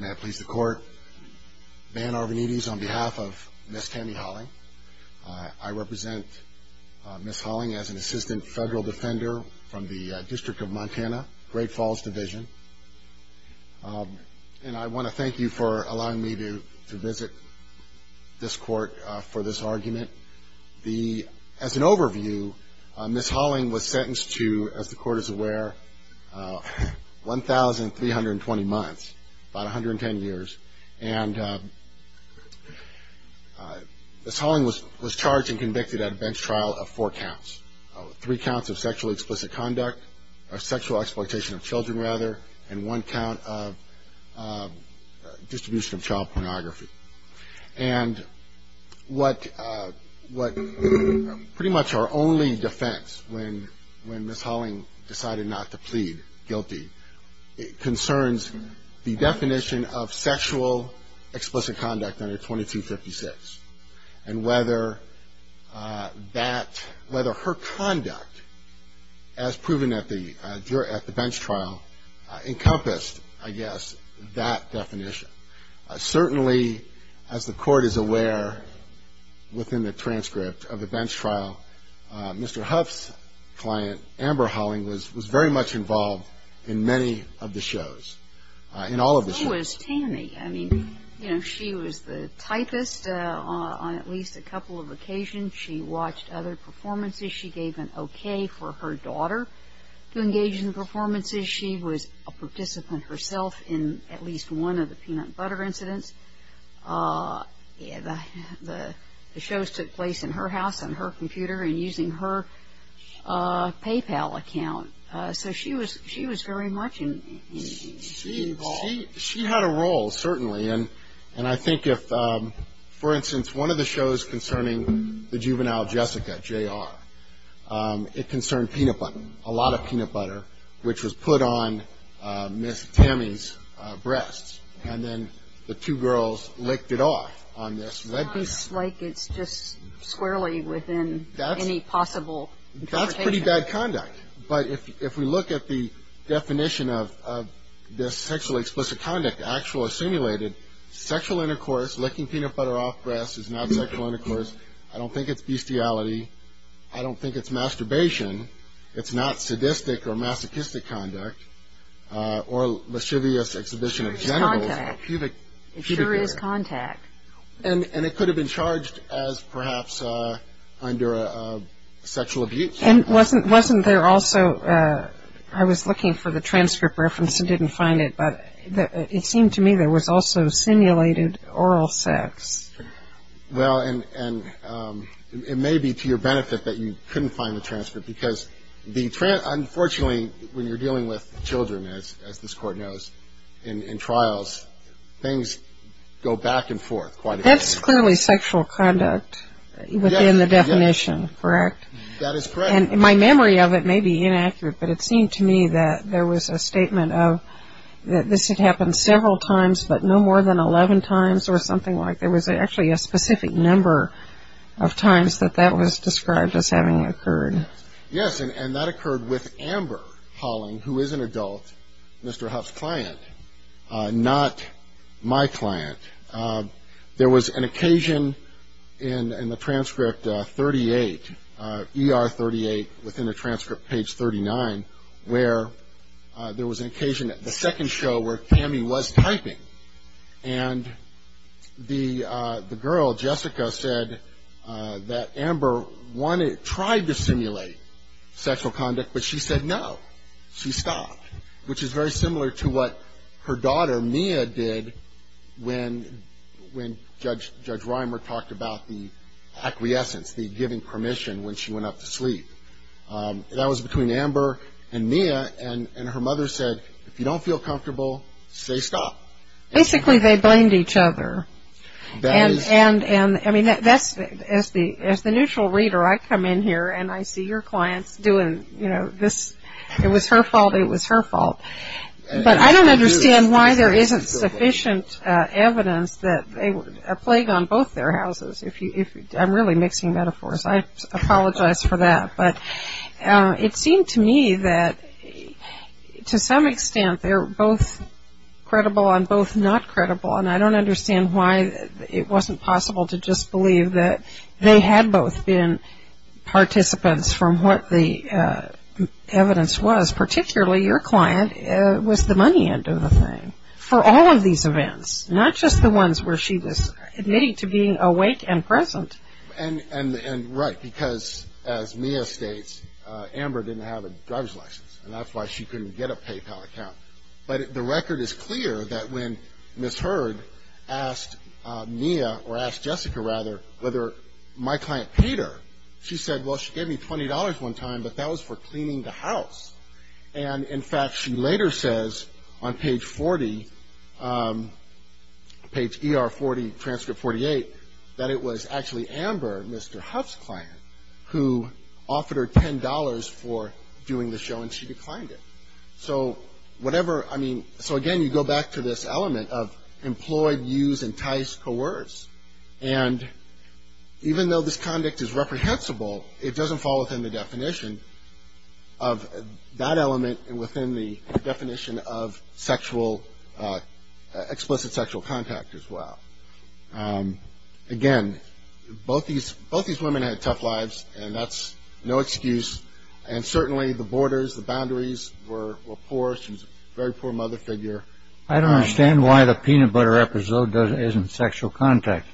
May I please the court, Van Arvanites on behalf of Ms. Tammy Halling, I represent Ms. Halling as an assistant federal defender from the District of Montana, Great Falls Division, and I want to thank you for allowing me to visit this court for this argument. As an overview, Ms. Halling was sentenced to, as the court is aware, 1,320 months, about 110 years, and Ms. Halling was charged and convicted at a bench trial of four counts. Three counts of sexually explicit conduct, or sexual exploitation of children rather, and one count of distribution of child pornography. And what pretty much our only defense when Ms. Halling decided not to plead guilty concerns the definition of sexual explicit conduct under 2256, and whether her conduct, as proven at the bench trial, encompassed, I guess, that definition. Certainly, as the court is aware, within the transcript of the bench trial, Mr. Huff's client, Amber Halling, was very much involved in many of the shows, in all of the shows. I mean, you know, she was the typist on at least a couple of occasions. She watched other performances. She gave an okay for her daughter to engage in performances. She was a participant herself in at least one of the peanut butter incidents. The shows took place in her house, on her computer, and using her PayPal account. So she was very much involved. She had a role, certainly. And I think if, for instance, one of the shows concerning the juvenile Jessica, J.R., it concerned peanut butter, a lot of peanut butter, which was put on Ms. Tammy's breasts. And then the two girls licked it off on this webcam. It's not like it's just squarely within any possible interpretation. That's pretty bad conduct. But if we look at the definition of this sexually explicit conduct actually simulated, sexual intercourse, licking peanut butter off breasts, is not sexual intercourse. I don't think it's bestiality. I don't think it's masturbation. It's not sadistic or masochistic conduct or lascivious exhibition of genitals. It's contact. It sure is contact. And it could have been charged as perhaps under sexual abuse. And wasn't there also – I was looking for the transcript reference and didn't find it. But it seemed to me there was also simulated oral sex. Well, and it may be to your benefit that you couldn't find the transcript. Because the – unfortunately, when you're dealing with children, as this Court knows, in trials, things go back and forth quite a bit. That's clearly sexual conduct within the definition, correct? That is correct. And my memory of it may be inaccurate, but it seemed to me that there was a statement of this had happened several times, but no more than 11 times or something like that. There was actually a specific number of times that that was described as having occurred. Yes, and that occurred with Amber Holling, who is an adult, Mr. Huff's client, not my client. There was an occasion in the transcript 38, ER 38, within the transcript page 39, where there was an occasion at the second show where Tammy was typing. And the girl, Jessica, said that Amber tried to simulate sexual conduct, but she said no. She stopped. Which is very similar to what her daughter, Mia, did when Judge Reimer talked about the acquiescence, the giving permission when she went up to sleep. That was between Amber and Mia, and her mother said, if you don't feel comfortable, say stop. Basically, they blamed each other. And, I mean, that's – as the neutral reader, I come in here and I see your clients doing, you know, this. It was her fault. It was her fault. But I don't understand why there isn't sufficient evidence that they were a plague on both their houses. I'm really mixing metaphors. I apologize for that. But it seemed to me that, to some extent, they were both credible and both not credible, and I don't understand why it wasn't possible to just believe that they had both been participants from what the evidence was, particularly your client was the money end of the thing for all of these events, not just the ones where she was admitting to being awake and present. And right, because, as Mia states, Amber didn't have a driver's license, and that's why she couldn't get a PayPal account. But the record is clear that when Ms. Hurd asked Mia, or asked Jessica, rather, whether my client paid her, she said, well, she gave me $20 one time, but that was for cleaning the house. And, in fact, she later says on page 40, page ER40, transcript 48, that it was actually Amber, Mr. Huff's client, who offered her $10 for doing the show, and she declined it. So whatever – I mean, so, again, you go back to this element of employed, used, enticed, coerced. And even though this conduct is reprehensible, it doesn't fall within the definition of that element and within the definition of explicit sexual contact as well. Again, both these women had tough lives, and that's no excuse. And certainly the borders, the boundaries were poor. She was a very poor mother figure. I don't understand why the peanut butter episode isn't sexual contact.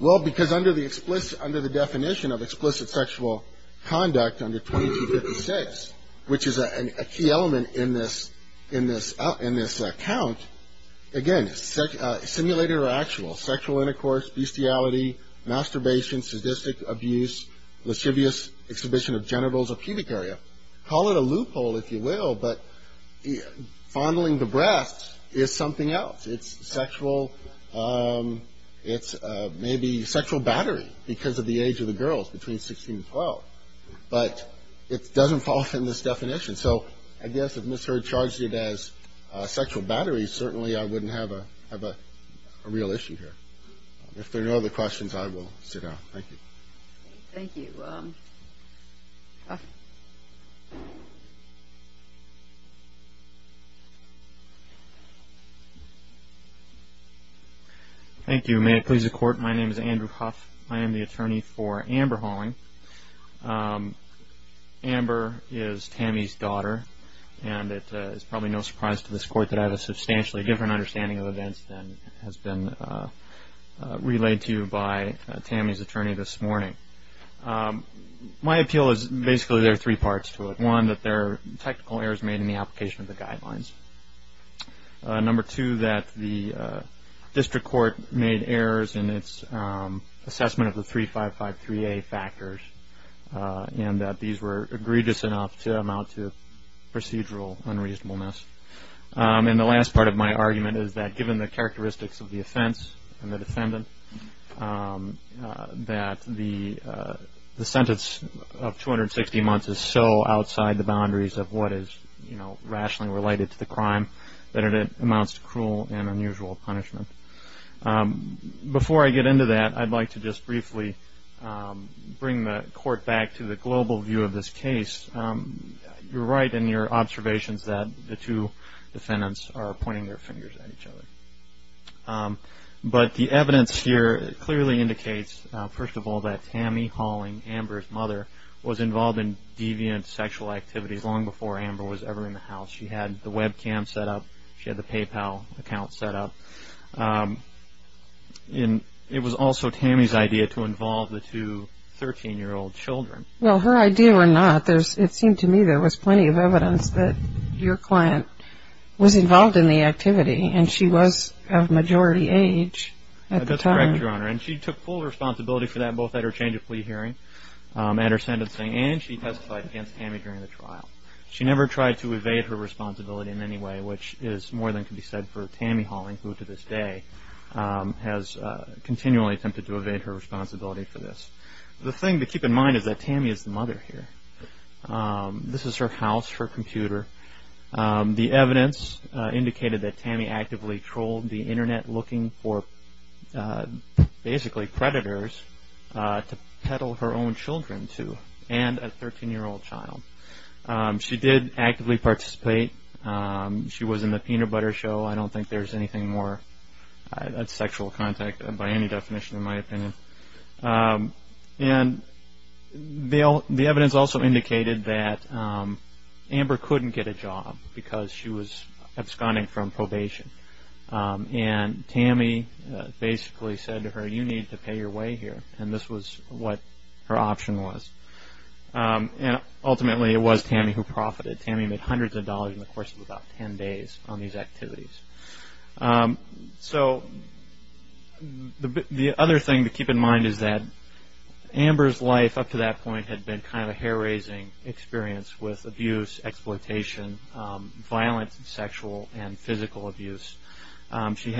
Well, because under the definition of explicit sexual conduct under 2256, which is a key element in this account, again, simulated or actual, sexual intercourse, bestiality, masturbation, sadistic abuse, lascivious exhibition of genitals or pubic area. Call it a loophole, if you will, but fondling the breasts is something else. It's sexual – it's maybe sexual battery because of the age of the girls between 16 and 12. But it doesn't fall within this definition. So I guess if Ms. Hurd charged it as sexual battery, certainly I wouldn't have a real issue here. If there are no other questions, I will sit down. Thank you. Thank you. Thank you. May it please the Court, my name is Andrew Huff. I am the attorney for Amber Holling. Amber is Tammy's daughter, and it is probably no surprise to this Court that I have a substantially different understanding of events than has been relayed to you by Tammy's attorney this morning. My appeal is basically there are three parts to it. One, that there are technical errors made in the application of the guidelines. Number two, that the district court made errors in its assessment of the 3553A factors and that these were egregious enough to amount to procedural unreasonableness. And the last part of my argument is that given the characteristics of the offense and the defendant, that the sentence of 260 months is so outside the boundaries of what is rationally related to the crime that it amounts to cruel and unusual punishment. Before I get into that, I would like to just briefly bring the Court back to the global view of this case. You are right in your observations that the two defendants are pointing their fingers at each other. But the evidence here clearly indicates, first of all, that Tammy Holling, Amber's mother, was involved in deviant sexual activities long before Amber was ever in the house. She had the webcam set up. She had the PayPal account set up. And it was also Tammy's idea to involve the two 13-year-old children. Well, her idea or not, it seemed to me there was plenty of evidence that your client was involved in the activity and she was of majority age at the time. That's correct, Your Honor. And she took full responsibility for that both at her change of plea hearing, at her sentencing, and she testified against Tammy during the trial. She never tried to evade her responsibility in any way, which is more than can be said for Tammy Holling, who to this day has continually attempted to evade her responsibility for this. The thing to keep in mind is that Tammy is the mother here. This is her house, her computer. The evidence indicated that Tammy actively trolled the Internet looking for basically predators to peddle her own children to and a 13-year-old child. She did actively participate. She was in the peanut butter show. I don't think there's anything more sexual contact by any definition in my opinion. And the evidence also indicated that Amber couldn't get a job because she was absconding from probation. And Tammy basically said to her, you need to pay your way here. And this was what her option was. And ultimately it was Tammy who profited. Tammy made hundreds of dollars in the course of about ten days on these activities. So the other thing to keep in mind is that Amber's life up to that point had been kind of a hair-raising experience with abuse, exploitation, violent sexual and physical abuse. She'd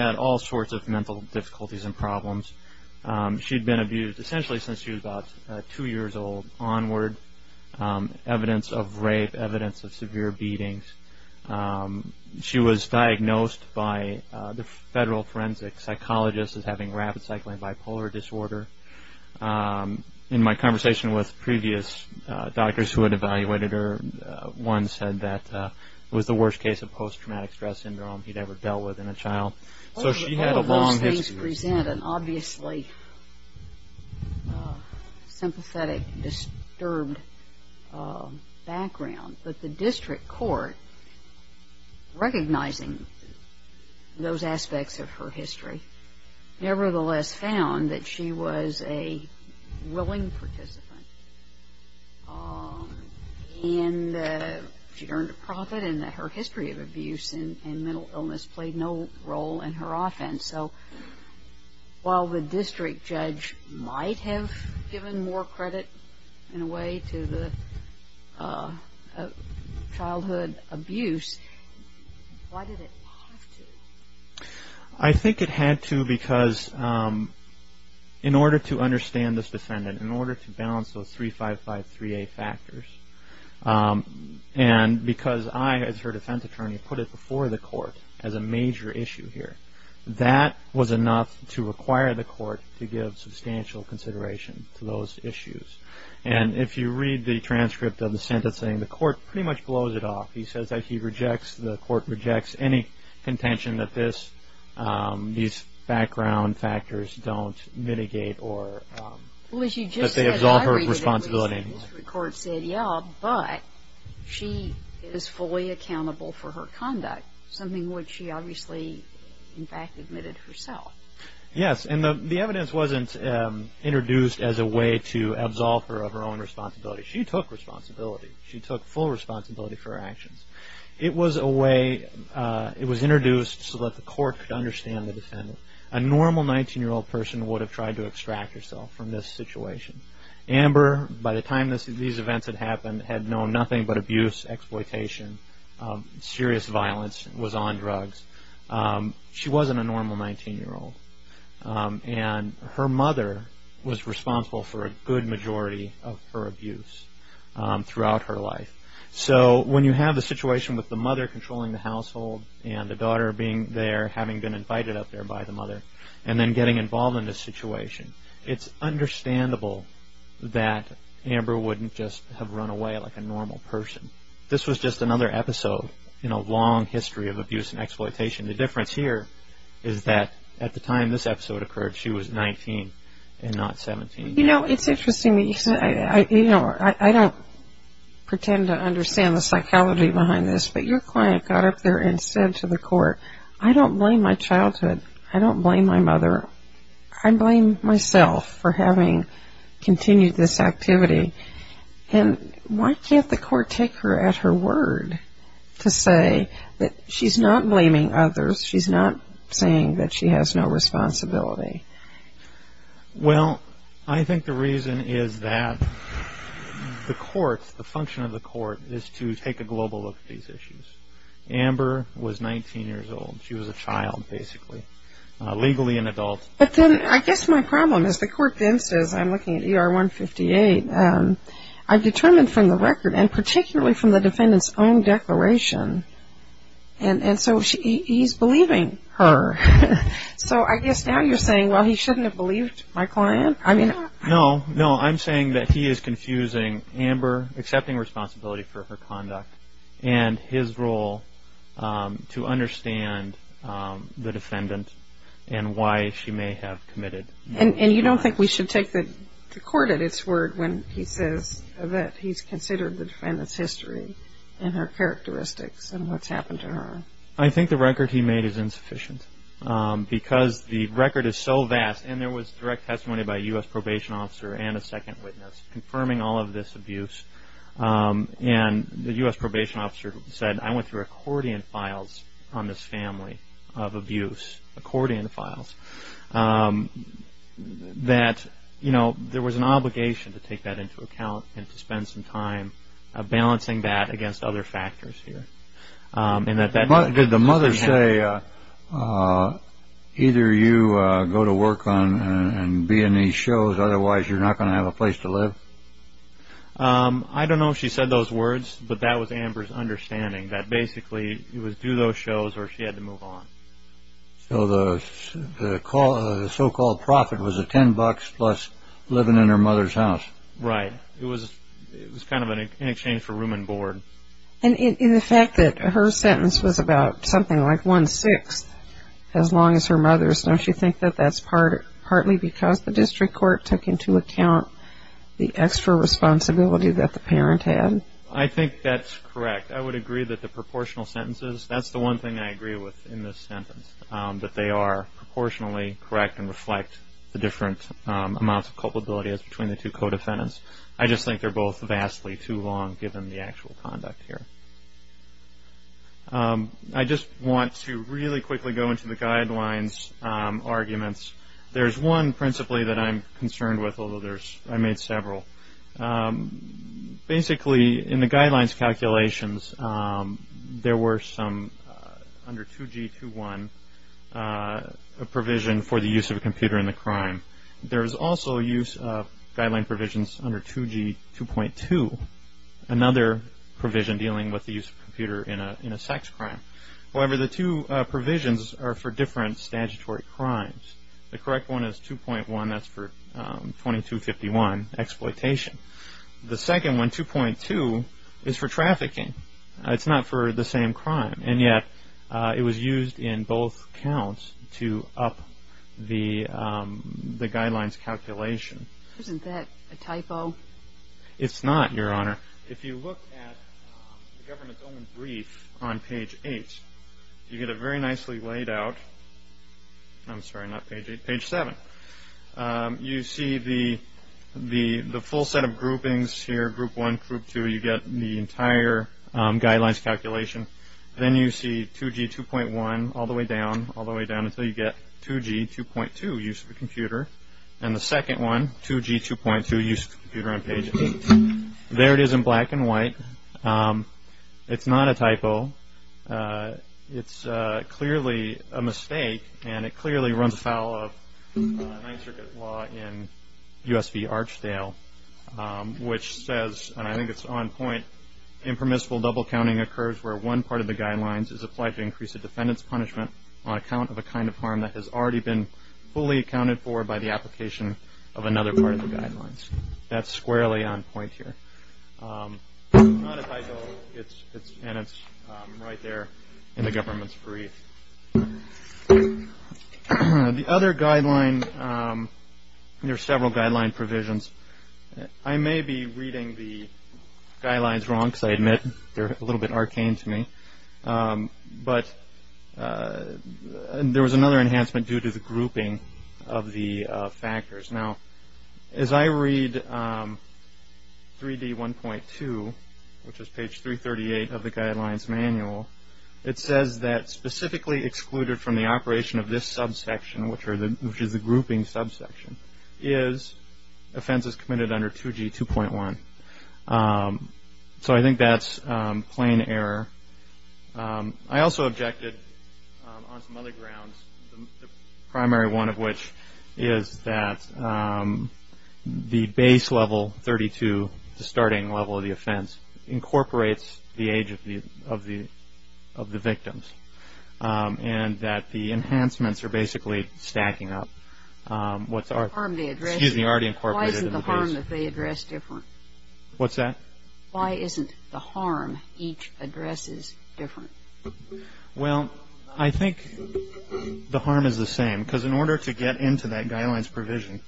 been abused essentially since she was about two years old onward. Evidence of rape, evidence of severe beatings. She was diagnosed by the federal forensic psychologist as having rapid cycling bipolar disorder. In my conversation with previous doctors who had evaluated her, one said that it was the worst case of post-traumatic stress syndrome he'd ever dealt with in a child. So she had a long history. All of those things present an obviously sympathetic, disturbed background. But the district court, recognizing those aspects of her history, nevertheless found that she was a willing participant. And she'd earned a profit. And her history of abuse and mental illness played no role in her offense. So while the district judge might have given more credit in a way to the childhood abuse, why did it have to? I think it had to because in order to understand this defendant, in order to balance those 3553A factors, and because I, as her defense attorney, put it before the court as a major issue here, that was enough to require the court to give substantial consideration to those issues. And if you read the transcript of the sentence saying the court pretty much blows it off. He says that he rejects, the court rejects, any contention that these background factors don't mitigate or that they absolve her of responsibility. Well, as you just said, I read it and the district court said, yeah, but she is fully accountable for her conduct, something which she obviously, in fact, admitted herself. Yes. And the evidence wasn't introduced as a way to absolve her of her own responsibility. She took responsibility. She took full responsibility for her actions. It was a way, it was introduced so that the court could understand the defendant. A normal 19-year-old person would have tried to extract herself from this situation. Amber, by the time these events had happened, had known nothing but abuse, exploitation, serious violence, was on drugs. She wasn't a normal 19-year-old. And her mother was responsible for a good majority of her abuse throughout her life. So when you have a situation with the mother controlling the household and the daughter being there having been invited up there by the mother and then getting involved in this situation, it's understandable that Amber wouldn't just have run away like a normal person. This was just another episode in a long history of abuse and exploitation. The difference here is that at the time this episode occurred, she was 19 and not 17. You know, it's interesting that you say, you know, I don't pretend to understand the psychology behind this, but your client got up there and said to the court, I don't blame my childhood. I don't blame my mother. I blame myself for having continued this activity. And why can't the court take her at her word to say that she's not blaming others, she's not saying that she has no responsibility? Well, I think the reason is that the court, the function of the court, is to take a global look at these issues. Amber was 19 years old. She was a child, basically, legally an adult. But then I guess my problem is the court then says, I'm looking at ER 158, I've determined from the record, and particularly from the defendant's own declaration, and so he's believing her. So I guess now you're saying, well, he shouldn't have believed my client? No, no, I'm saying that he is confusing Amber, accepting responsibility for her conduct and his role to understand the defendant and why she may have committed. And you don't think we should take the court at its word when he says that he's considered the defendant's history and her characteristics and what's happened to her? I think the record he made is insufficient because the record is so vast. And there was direct testimony by a U.S. probation officer and a second witness confirming all of this abuse. And the U.S. probation officer said, I went through accordion files on this family of abuse, accordion files, that there was an obligation to take that into account and to spend some time balancing that against other factors here. Did the mother say, either you go to work and be in these shows, otherwise you're not going to have a place to live? I don't know if she said those words, but that was Amber's understanding, that basically it was do those shows or she had to move on. So the so-called profit was $10 plus living in her mother's house. Right. It was kind of in exchange for room and board. And the fact that her sentence was about something like one-sixth as long as her mother's, don't you think that that's partly because the district court took into account the extra responsibility that the parent had? I think that's correct. I would agree that the proportional sentences, that's the one thing I agree with in this sentence, that they are proportionally correct and reflect the different amounts of culpability as between the two co-defendants. I just think they're both vastly too long given the actual conduct here. I just want to really quickly go into the guidelines arguments. There's one principally that I'm concerned with, although I made several. Basically, in the guidelines calculations, there were some under 2G21 a provision for the use of a computer in the crime. There was also use of guideline provisions under 2G2.2, another provision dealing with the use of a computer in a sex crime. However, the two provisions are for different statutory crimes. The correct one is 2.1, that's for 2251, exploitation. The second one, 2.2, is for trafficking. It's not for the same crime. And yet, it was used in both counts to up the guidelines calculation. Isn't that a typo? It's not, Your Honor. If you look at the government's own brief on page 8, you get it very nicely laid out. I'm sorry, not page 8, page 7. You see the full set of groupings here, group 1, group 2. You get the entire guidelines calculation. Then you see 2G2.1 all the way down, all the way down until you get 2G2.2, use of a computer. And the second one, 2G2.2, use of a computer on page 8. There it is in black and white. It's not a typo. It's clearly a mistake, and it clearly runs afoul of Ninth Circuit law in U.S. v. Archdale, which says, and I think it's on point, impermissible double counting occurs where one part of the guidelines has already been fully accounted for by the application of another part of the guidelines. That's squarely on point here. It's not a typo, and it's right there in the government's brief. The other guideline, there are several guideline provisions. I may be reading the guidelines wrong, because I admit they're a little bit arcane to me, but there was another enhancement due to the grouping of the factors. Now, as I read 3D1.2, which is page 338 of the guidelines manual, it says that specifically excluded from the operation of this subsection, which is the grouping subsection, is offenses committed under 2G2.1. So I think that's plain error. I also objected on some other grounds, the primary one of which is that the base level 32, the starting level of the offense, incorporates the age of the victims, and that the enhancements are basically stacking up. Excuse me, already incorporated in the base. Why isn't the harm that they address different? What's that? Why isn't the harm each addresses different? Well, I think the harm is the same, because in order to get into that guidelines provision,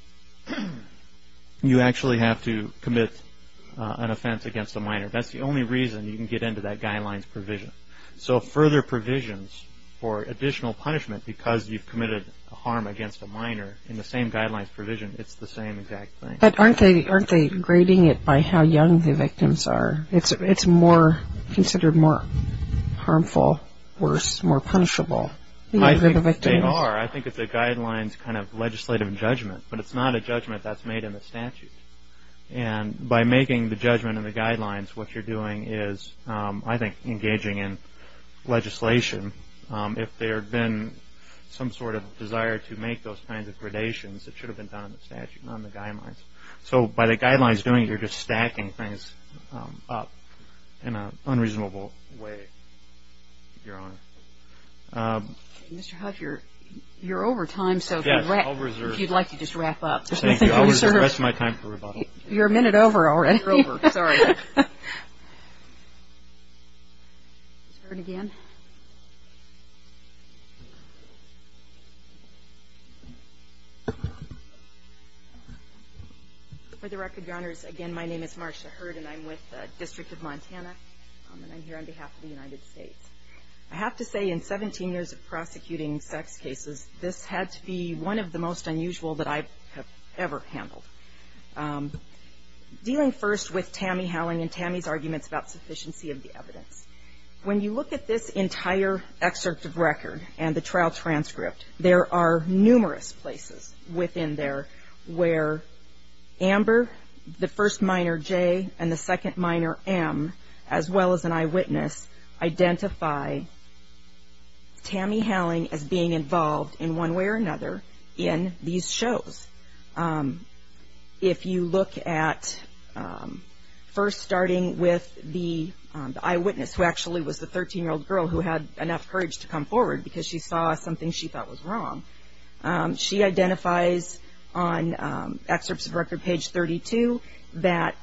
you actually have to commit an offense against a minor. That's the only reason you can get into that guidelines provision. So further provisions for additional punishment, because you've committed a harm against a minor in the same guidelines provision, it's the same exact thing. But aren't they grading it by how young the victims are? It's considered more harmful, worse, more punishable. I think they are. I think it's a guidelines kind of legislative judgment, but it's not a judgment that's made in the statute. And by making the judgment in the guidelines, what you're doing is, I think, engaging in legislation. If there had been some sort of desire to make those kinds of gradations, it should have been done in the statute, not in the guidelines. So by the guidelines doing it, you're just stacking things up in an unreasonable way, Your Honor. Mr. Huff, you're over time, so if you'd like to just wrap up. Thank you. I'll reserve the rest of my time for rebuttal. You're a minute over already. You're over. Sorry. For the record, Your Honors, again, my name is Marcia Hurd, and I'm with the District of Montana, and I'm here on behalf of the United States. I have to say, in 17 years of prosecuting sex cases, this had to be one of the most unusual that I have ever handled. Dealing first with Tammy Howling and Tammy's arguments about sufficiency of the evidence, when you look at this entire excerpt of record and the trial transcript, there are numerous places within there where Amber, the first minor, J, and the second minor, M, as well as an eyewitness, identify Tammy Howling as being involved in one way or another in these shows. If you look at first starting with the eyewitness, who actually was the 13-year-old girl who had enough courage to come forward because she saw something she thought was wrong, she identifies on excerpts of record, page 32, that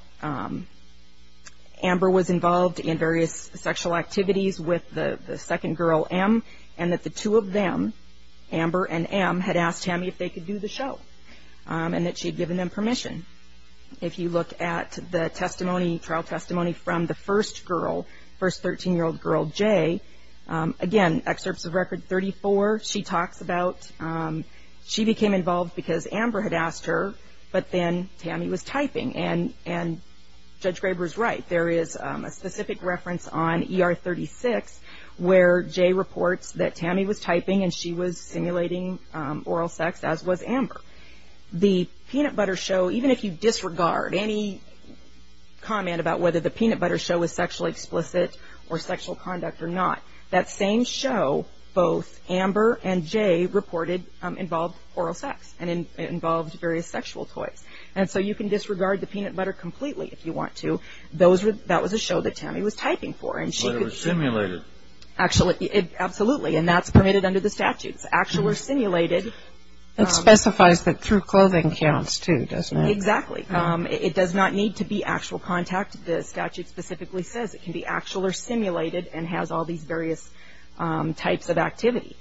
Amber was involved in various sexual activities with the second girl, M, and that the two of them, Amber and M, had asked Tammy if they could do the show, and that she had given them permission. If you look at the testimony, trial testimony, from the first girl, first 13-year-old girl, J, again, excerpts of record 34, she talks about she became involved because Amber had asked her, but then Tammy was typing, and Judge Graber is right. There is a specific reference on ER 36 where J reports that Tammy was typing and she was simulating oral sex, as was Amber. The peanut butter show, even if you disregard any comment about whether the peanut butter show was sexually explicit or sexual conduct or not, that same show, both Amber and J reported involved oral sex and involved various sexual toys, and so you can disregard the peanut butter completely if you want to. That was a show that Tammy was typing for. But it was simulated. Absolutely, and that's permitted under the statutes. Actual or simulated. It specifies that through clothing counts, too, doesn't it? Exactly. It does not need to be actual contact. The statute specifically says it can be actual or simulated and has all these various types of activity.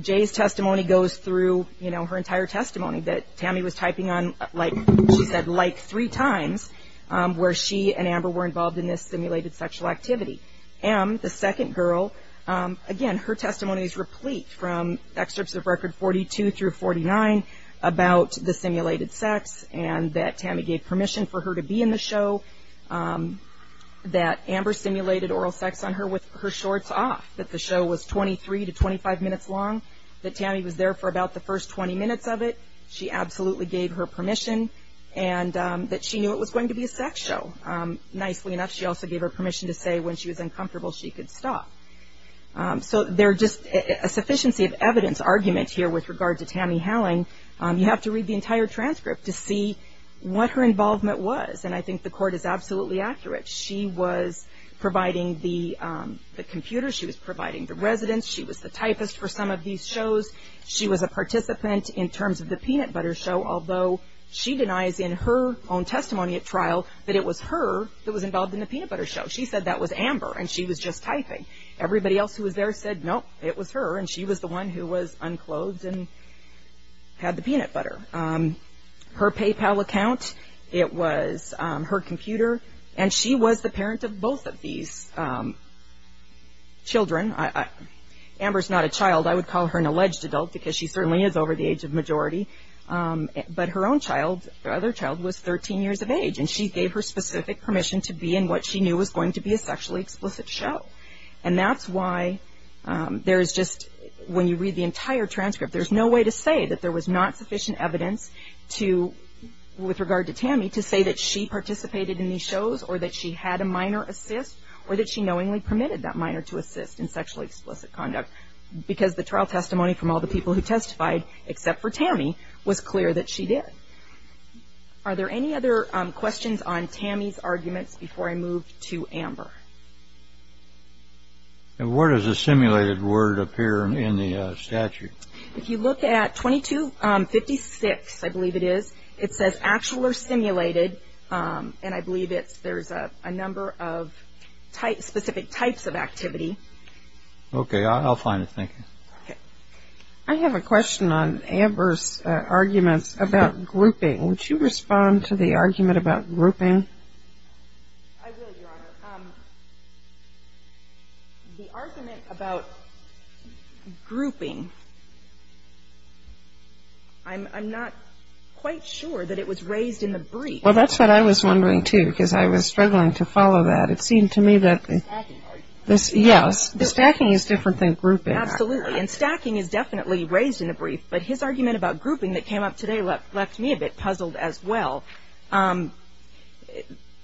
J's testimony goes through, you know, her entire testimony that Tammy was typing on, like she said, like three times where she and Amber were involved in this simulated sexual activity. M, the second girl, again, her testimony is replete from excerpts of record 42 through 49 about the simulated sex and that Tammy gave permission for her to be in the show, that Amber simulated oral sex on her with her shorts off, that the show was 23 to 25 minutes long, that Tammy was there for about the first 20 minutes of it. She absolutely gave her permission and that she knew it was going to be a sex show. Nicely enough, she also gave her permission to say when she was uncomfortable she could stop. So there are just a sufficiency of evidence argument here with regard to Tammy Howling. You have to read the entire transcript to see what her involvement was, and I think the court is absolutely accurate. She was providing the computer. She was providing the residence. She was the typist for some of these shows. She was a participant in terms of the peanut butter show, although she denies in her own testimony at trial that it was her that was involved in the peanut butter show. She said that was Amber and she was just typing. Everybody else who was there said nope, it was her, and she was the one who was unclothed and had the peanut butter. Her PayPal account, it was her computer, and she was the parent of both of these children. Amber is not a child. I would call her an alleged adult because she certainly is over the age of majority, but her own child, her other child, was 13 years of age, and she gave her specific permission to be in what she knew was going to be a sexually explicit show, and that's why there is just, when you read the entire transcript, there's no way to say that there was not sufficient evidence to, with regard to Tammy, to say that she participated in these shows or that she had a minor assist or that she knowingly permitted that minor to assist in sexually explicit conduct because the trial testimony from all the people who testified, except for Tammy, was clear that she did. Are there any other questions on Tammy's arguments before I move to Amber? And where does the simulated word appear in the statute? If you look at 2256, I believe it is, it says actual or simulated, and I believe there's a number of specific types of activity. Okay. I'll find it. Thank you. Okay. I have a question on Amber's arguments about grouping. Would you respond to the argument about grouping? I will, Your Honor. The argument about grouping, I'm not quite sure that it was raised in the brief. Well, that's what I was wondering, too, because I was struggling to follow that. It seemed to me that the stacking is different than grouping. Absolutely. And stacking is definitely raised in the brief, but his argument about grouping that came up today left me a bit puzzled as well.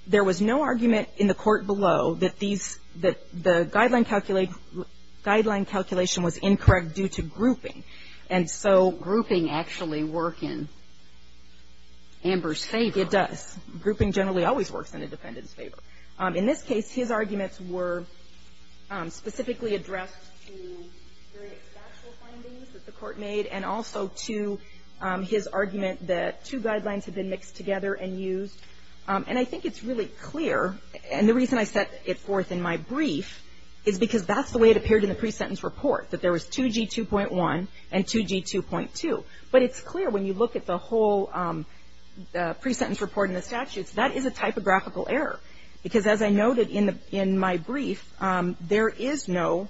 There was no argument in the court below that the guideline calculation was incorrect due to grouping. And so grouping actually works in Amber's favor. It does. Grouping generally always works in a defendant's favor. In this case, his arguments were specifically addressed to various factual findings that the court made and also to his argument that two guidelines had been mixed together and used. And I think it's really clear, and the reason I set it forth in my brief is because that's the way it appeared in the pre-sentence report, that there was 2G2.1 and 2G2.2. But it's clear when you look at the whole pre-sentence report and the statutes, that is a typographical error because, as I noted in my brief, there is no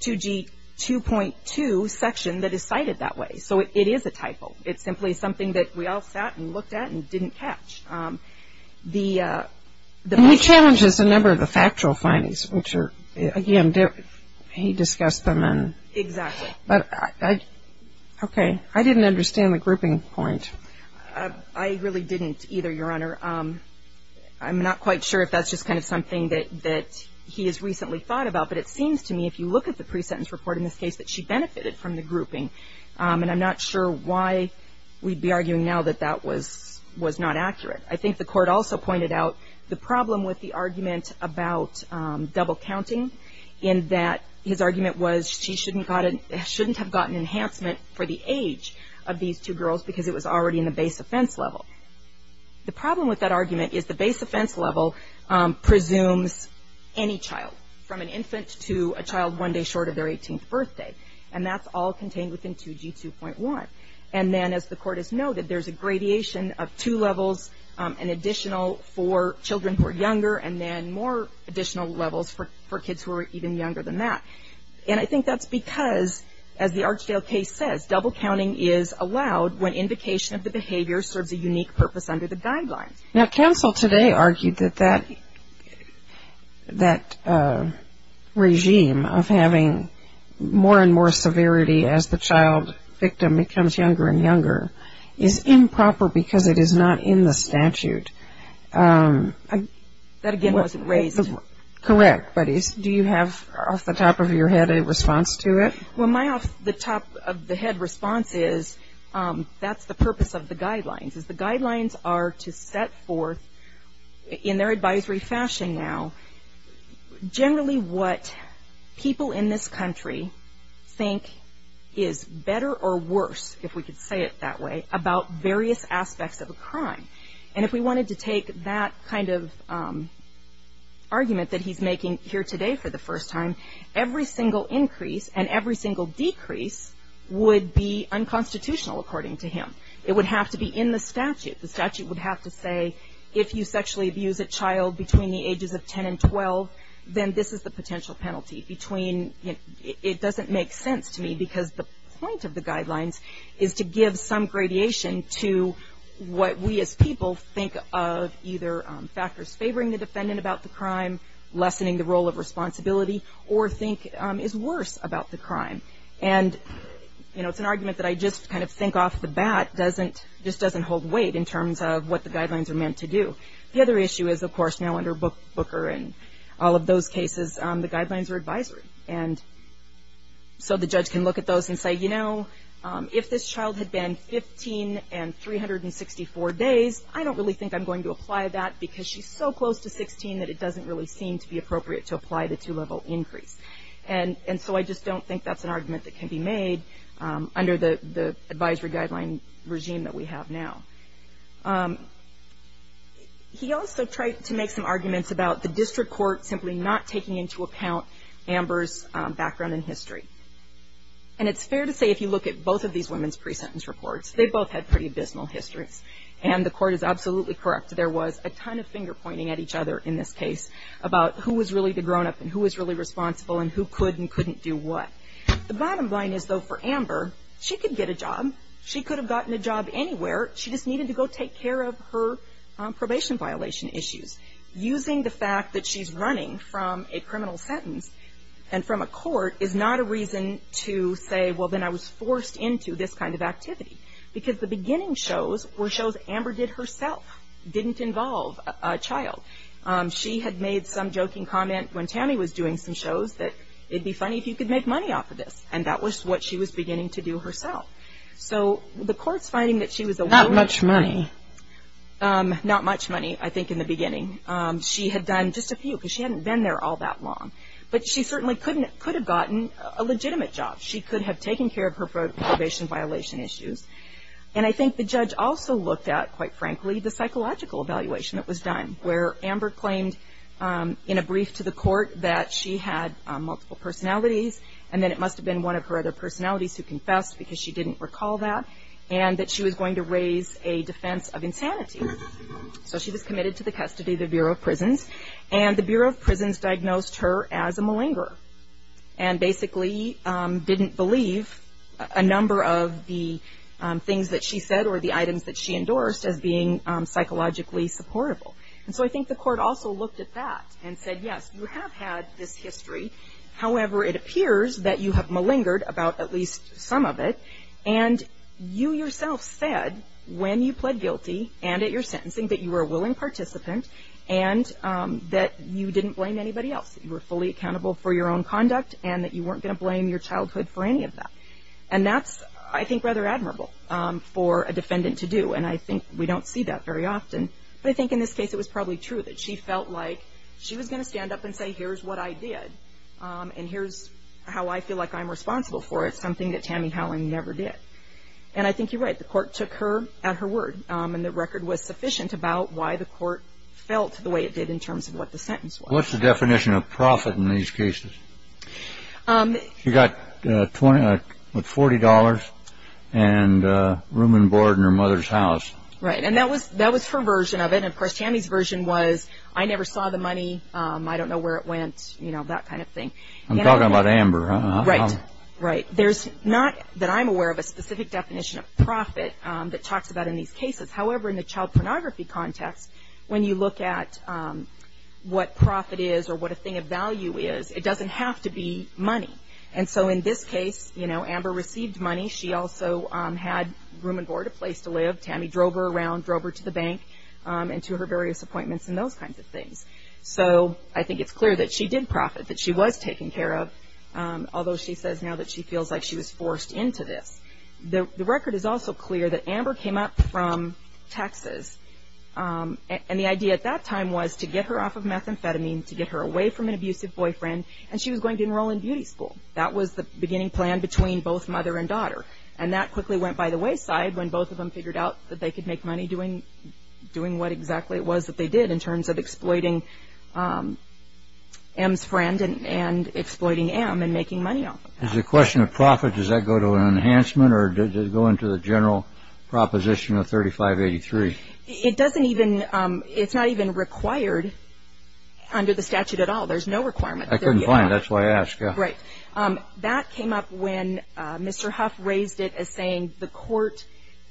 2G2.2 section that is cited that way. So it is a typo. It's simply something that we all sat and looked at and didn't catch. And he challenges a number of the factual findings, which are, again, he discussed them. Exactly. Okay. I didn't understand the grouping point. I really didn't either, Your Honor. I'm not quite sure if that's just kind of something that he has recently thought about. But it seems to me, if you look at the pre-sentence report in this case, that she benefited from the grouping. And I'm not sure why we'd be arguing now that that was not accurate. I think the court also pointed out the problem with the argument about double counting in that his argument was she shouldn't have gotten enhancement for the age of these two girls because it was already in the base offense level. The problem with that argument is the base offense level presumes any child, from an infant to a child one day short of their 18th birthday. And that's all contained within 2G2.1. And then, as the court has noted, there's a gradation of two levels, an additional for children who are younger, and then more additional levels for kids who are even younger than that. And I think that's because, as the Archdale case says, double counting is allowed when indication of the behavior serves a unique purpose under the guidelines. Now, counsel today argued that that regime of having more and more severity as the child victim becomes younger and younger is improper because it is not in the statute. That, again, wasn't raised. Correct, but do you have off the top of your head a response to it? Well, my off the top of the head response is that's the purpose of the guidelines, is the guidelines are to set forth in their advisory fashion now generally what people in this country think is better or worse, if we could say it that way, about various aspects of a crime. And if we wanted to take that kind of argument that he's making here today for the first time, every single increase and every single decrease would be unconstitutional, according to him. It would have to be in the statute. The statute would have to say if you sexually abuse a child between the ages of 10 and 12, then this is the potential penalty between — it doesn't make sense to me because the point of the guidelines is to give some gradation to what we as people think of either factors favoring the defendant about the crime, lessening the role of responsibility, or think is worse about the crime. And, you know, it's an argument that I just kind of think off the bat doesn't — just doesn't hold weight in terms of what the guidelines are meant to do. The other issue is, of course, now under Booker and all of those cases, the guidelines are advisory. And so the judge can look at those and say, you know, if this child had been 15 and 364 days, I don't really think I'm going to apply that because she's so close to 16 that it doesn't really seem to be appropriate to apply the two-level increase. And so I just don't think that's an argument that can be made under the advisory guideline regime that we have now. He also tried to make some arguments about the district court simply not taking into account Amber's background and history. And it's fair to say if you look at both of these women's pre-sentence reports, they both had pretty abysmal histories. And the court is absolutely correct. There was a ton of finger-pointing at each other in this case about who was really the grown-up and who was really responsible and who could and couldn't do what. The bottom line is, though, for Amber, she could get a job. She could have gotten a job anywhere. She just needed to go take care of her probation violation issues. Using the fact that she's running from a criminal sentence and from a court is not a reason to say, well, then I was forced into this kind of activity. Because the beginning shows were shows Amber did herself, didn't involve a child. She had made some joking comment when Tammy was doing some shows that it would be funny if you could make money off of this. And that was what she was beginning to do herself. So the court's finding that she was a woman. Not much money. Not much money, I think, in the beginning. She had done just a few because she hadn't been there all that long. But she certainly could have gotten a legitimate job. She could have taken care of her probation violation issues. And I think the judge also looked at, quite frankly, the psychological evaluation that was done, where Amber claimed in a brief to the court that she had multiple personalities, and that it must have been one of her other personalities who confessed because she didn't recall that, and that she was going to raise a defense of insanity. So she was committed to the custody of the Bureau of Prisons. And the Bureau of Prisons diagnosed her as a malingerer, and basically didn't believe a number of the things that she said or the items that she endorsed as being psychologically supportable. And so I think the court also looked at that and said, yes, you have had this history. However, it appears that you have malingered about at least some of it. And you yourself said when you pled guilty and at your sentencing that you were a willing participant and that you didn't blame anybody else. You were fully accountable for your own conduct and that you weren't going to blame your childhood for any of that. And that's, I think, rather admirable for a defendant to do. And I think we don't see that very often. But I think in this case it was probably true that she felt like she was going to stand up and say, here's what I did, and here's how I feel like I'm responsible for it, something that Tammy Howling never did. And I think you're right. The court took her at her word, and the record was sufficient about why the court felt the way it did in terms of what the sentence was. What's the definition of profit in these cases? She got $40 and room and board in her mother's house. Right. And that was her version of it. And, of course, Tammy's version was, I never saw the money. I don't know where it went, you know, that kind of thing. I'm talking about Amber. Right. Right. There's not that I'm aware of a specific definition of profit that talks about in these cases. However, in the child pornography context, when you look at what profit is or what a thing of value is, it doesn't have to be money. And so in this case, you know, Amber received money. She also had room and board, a place to live. Tammy drove her around, drove her to the bank and to her various appointments and those kinds of things. So I think it's clear that she did profit, that she was taken care of, although she says now that she feels like she was forced into this. The record is also clear that Amber came up from Texas. And the idea at that time was to get her off of methamphetamine, to get her away from an abusive boyfriend, and she was going to enroll in beauty school. That was the beginning plan between both mother and daughter. And that quickly went by the wayside when both of them figured out that they could make money doing what exactly it was that they did in terms of exploiting M's friend and exploiting M and making money off of that. As a question of profit, does that go to an enhancement or does it go into the general proposition of 3583? It doesn't even – it's not even required under the statute at all. There's no requirement. I couldn't find it. That's why I asked. Right. So that came up when Mr. Huff raised it as saying the court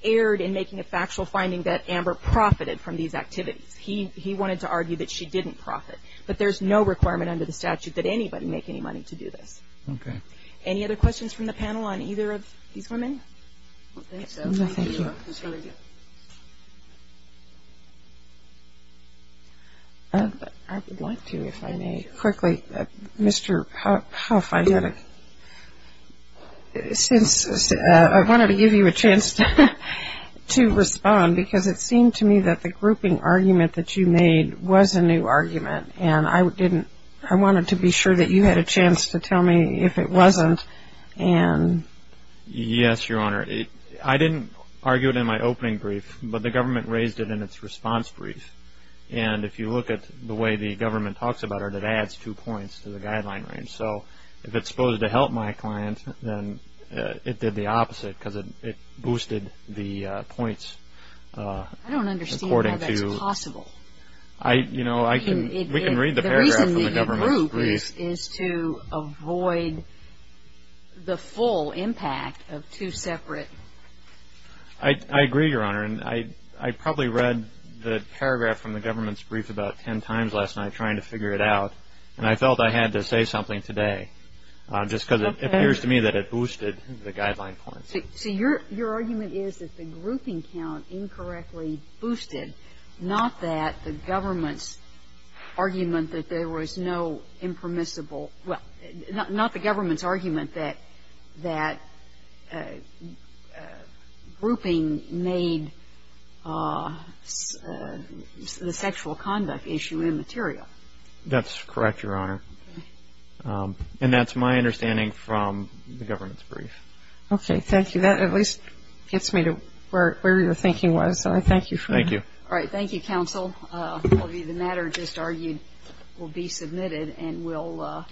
erred in making a factual finding that Amber profited from these activities. He wanted to argue that she didn't profit. But there's no requirement under the statute that anybody make any money to do this. Okay. Any other questions from the panel on either of these women? No, thank you. I would like to, if I may, quickly. Mr. Huff, I wanted to give you a chance to respond because it seemed to me that the grouping argument that you made was a new argument and I wanted to be sure that you had a chance to tell me if it wasn't. Yes, Your Honor. I didn't argue it in my opening brief, but the government raised it in its response brief. And if you look at the way the government talks about it, it adds two points to the guideline range. So if it's supposed to help my client, then it did the opposite because it boosted the points according to... I don't understand how that's possible. I, you know, I can... The reason that you group is to avoid the full impact of two separate... I agree, Your Honor. And I probably read the paragraph from the government's brief about ten times last night trying to figure it out, and I felt I had to say something today just because it appears to me that it boosted the guideline points. So your argument is that the grouping count incorrectly boosted, not that the government's argument that there was no impermissible, well, not the government's argument that grouping made the sexual conduct issue immaterial. That's correct, Your Honor. And that's my understanding from the government's brief. Okay. Thank you. That at least gets me to where your thinking was, so I thank you for that. Thank you. Thank you, counsel. The matter just argued will be submitted and will...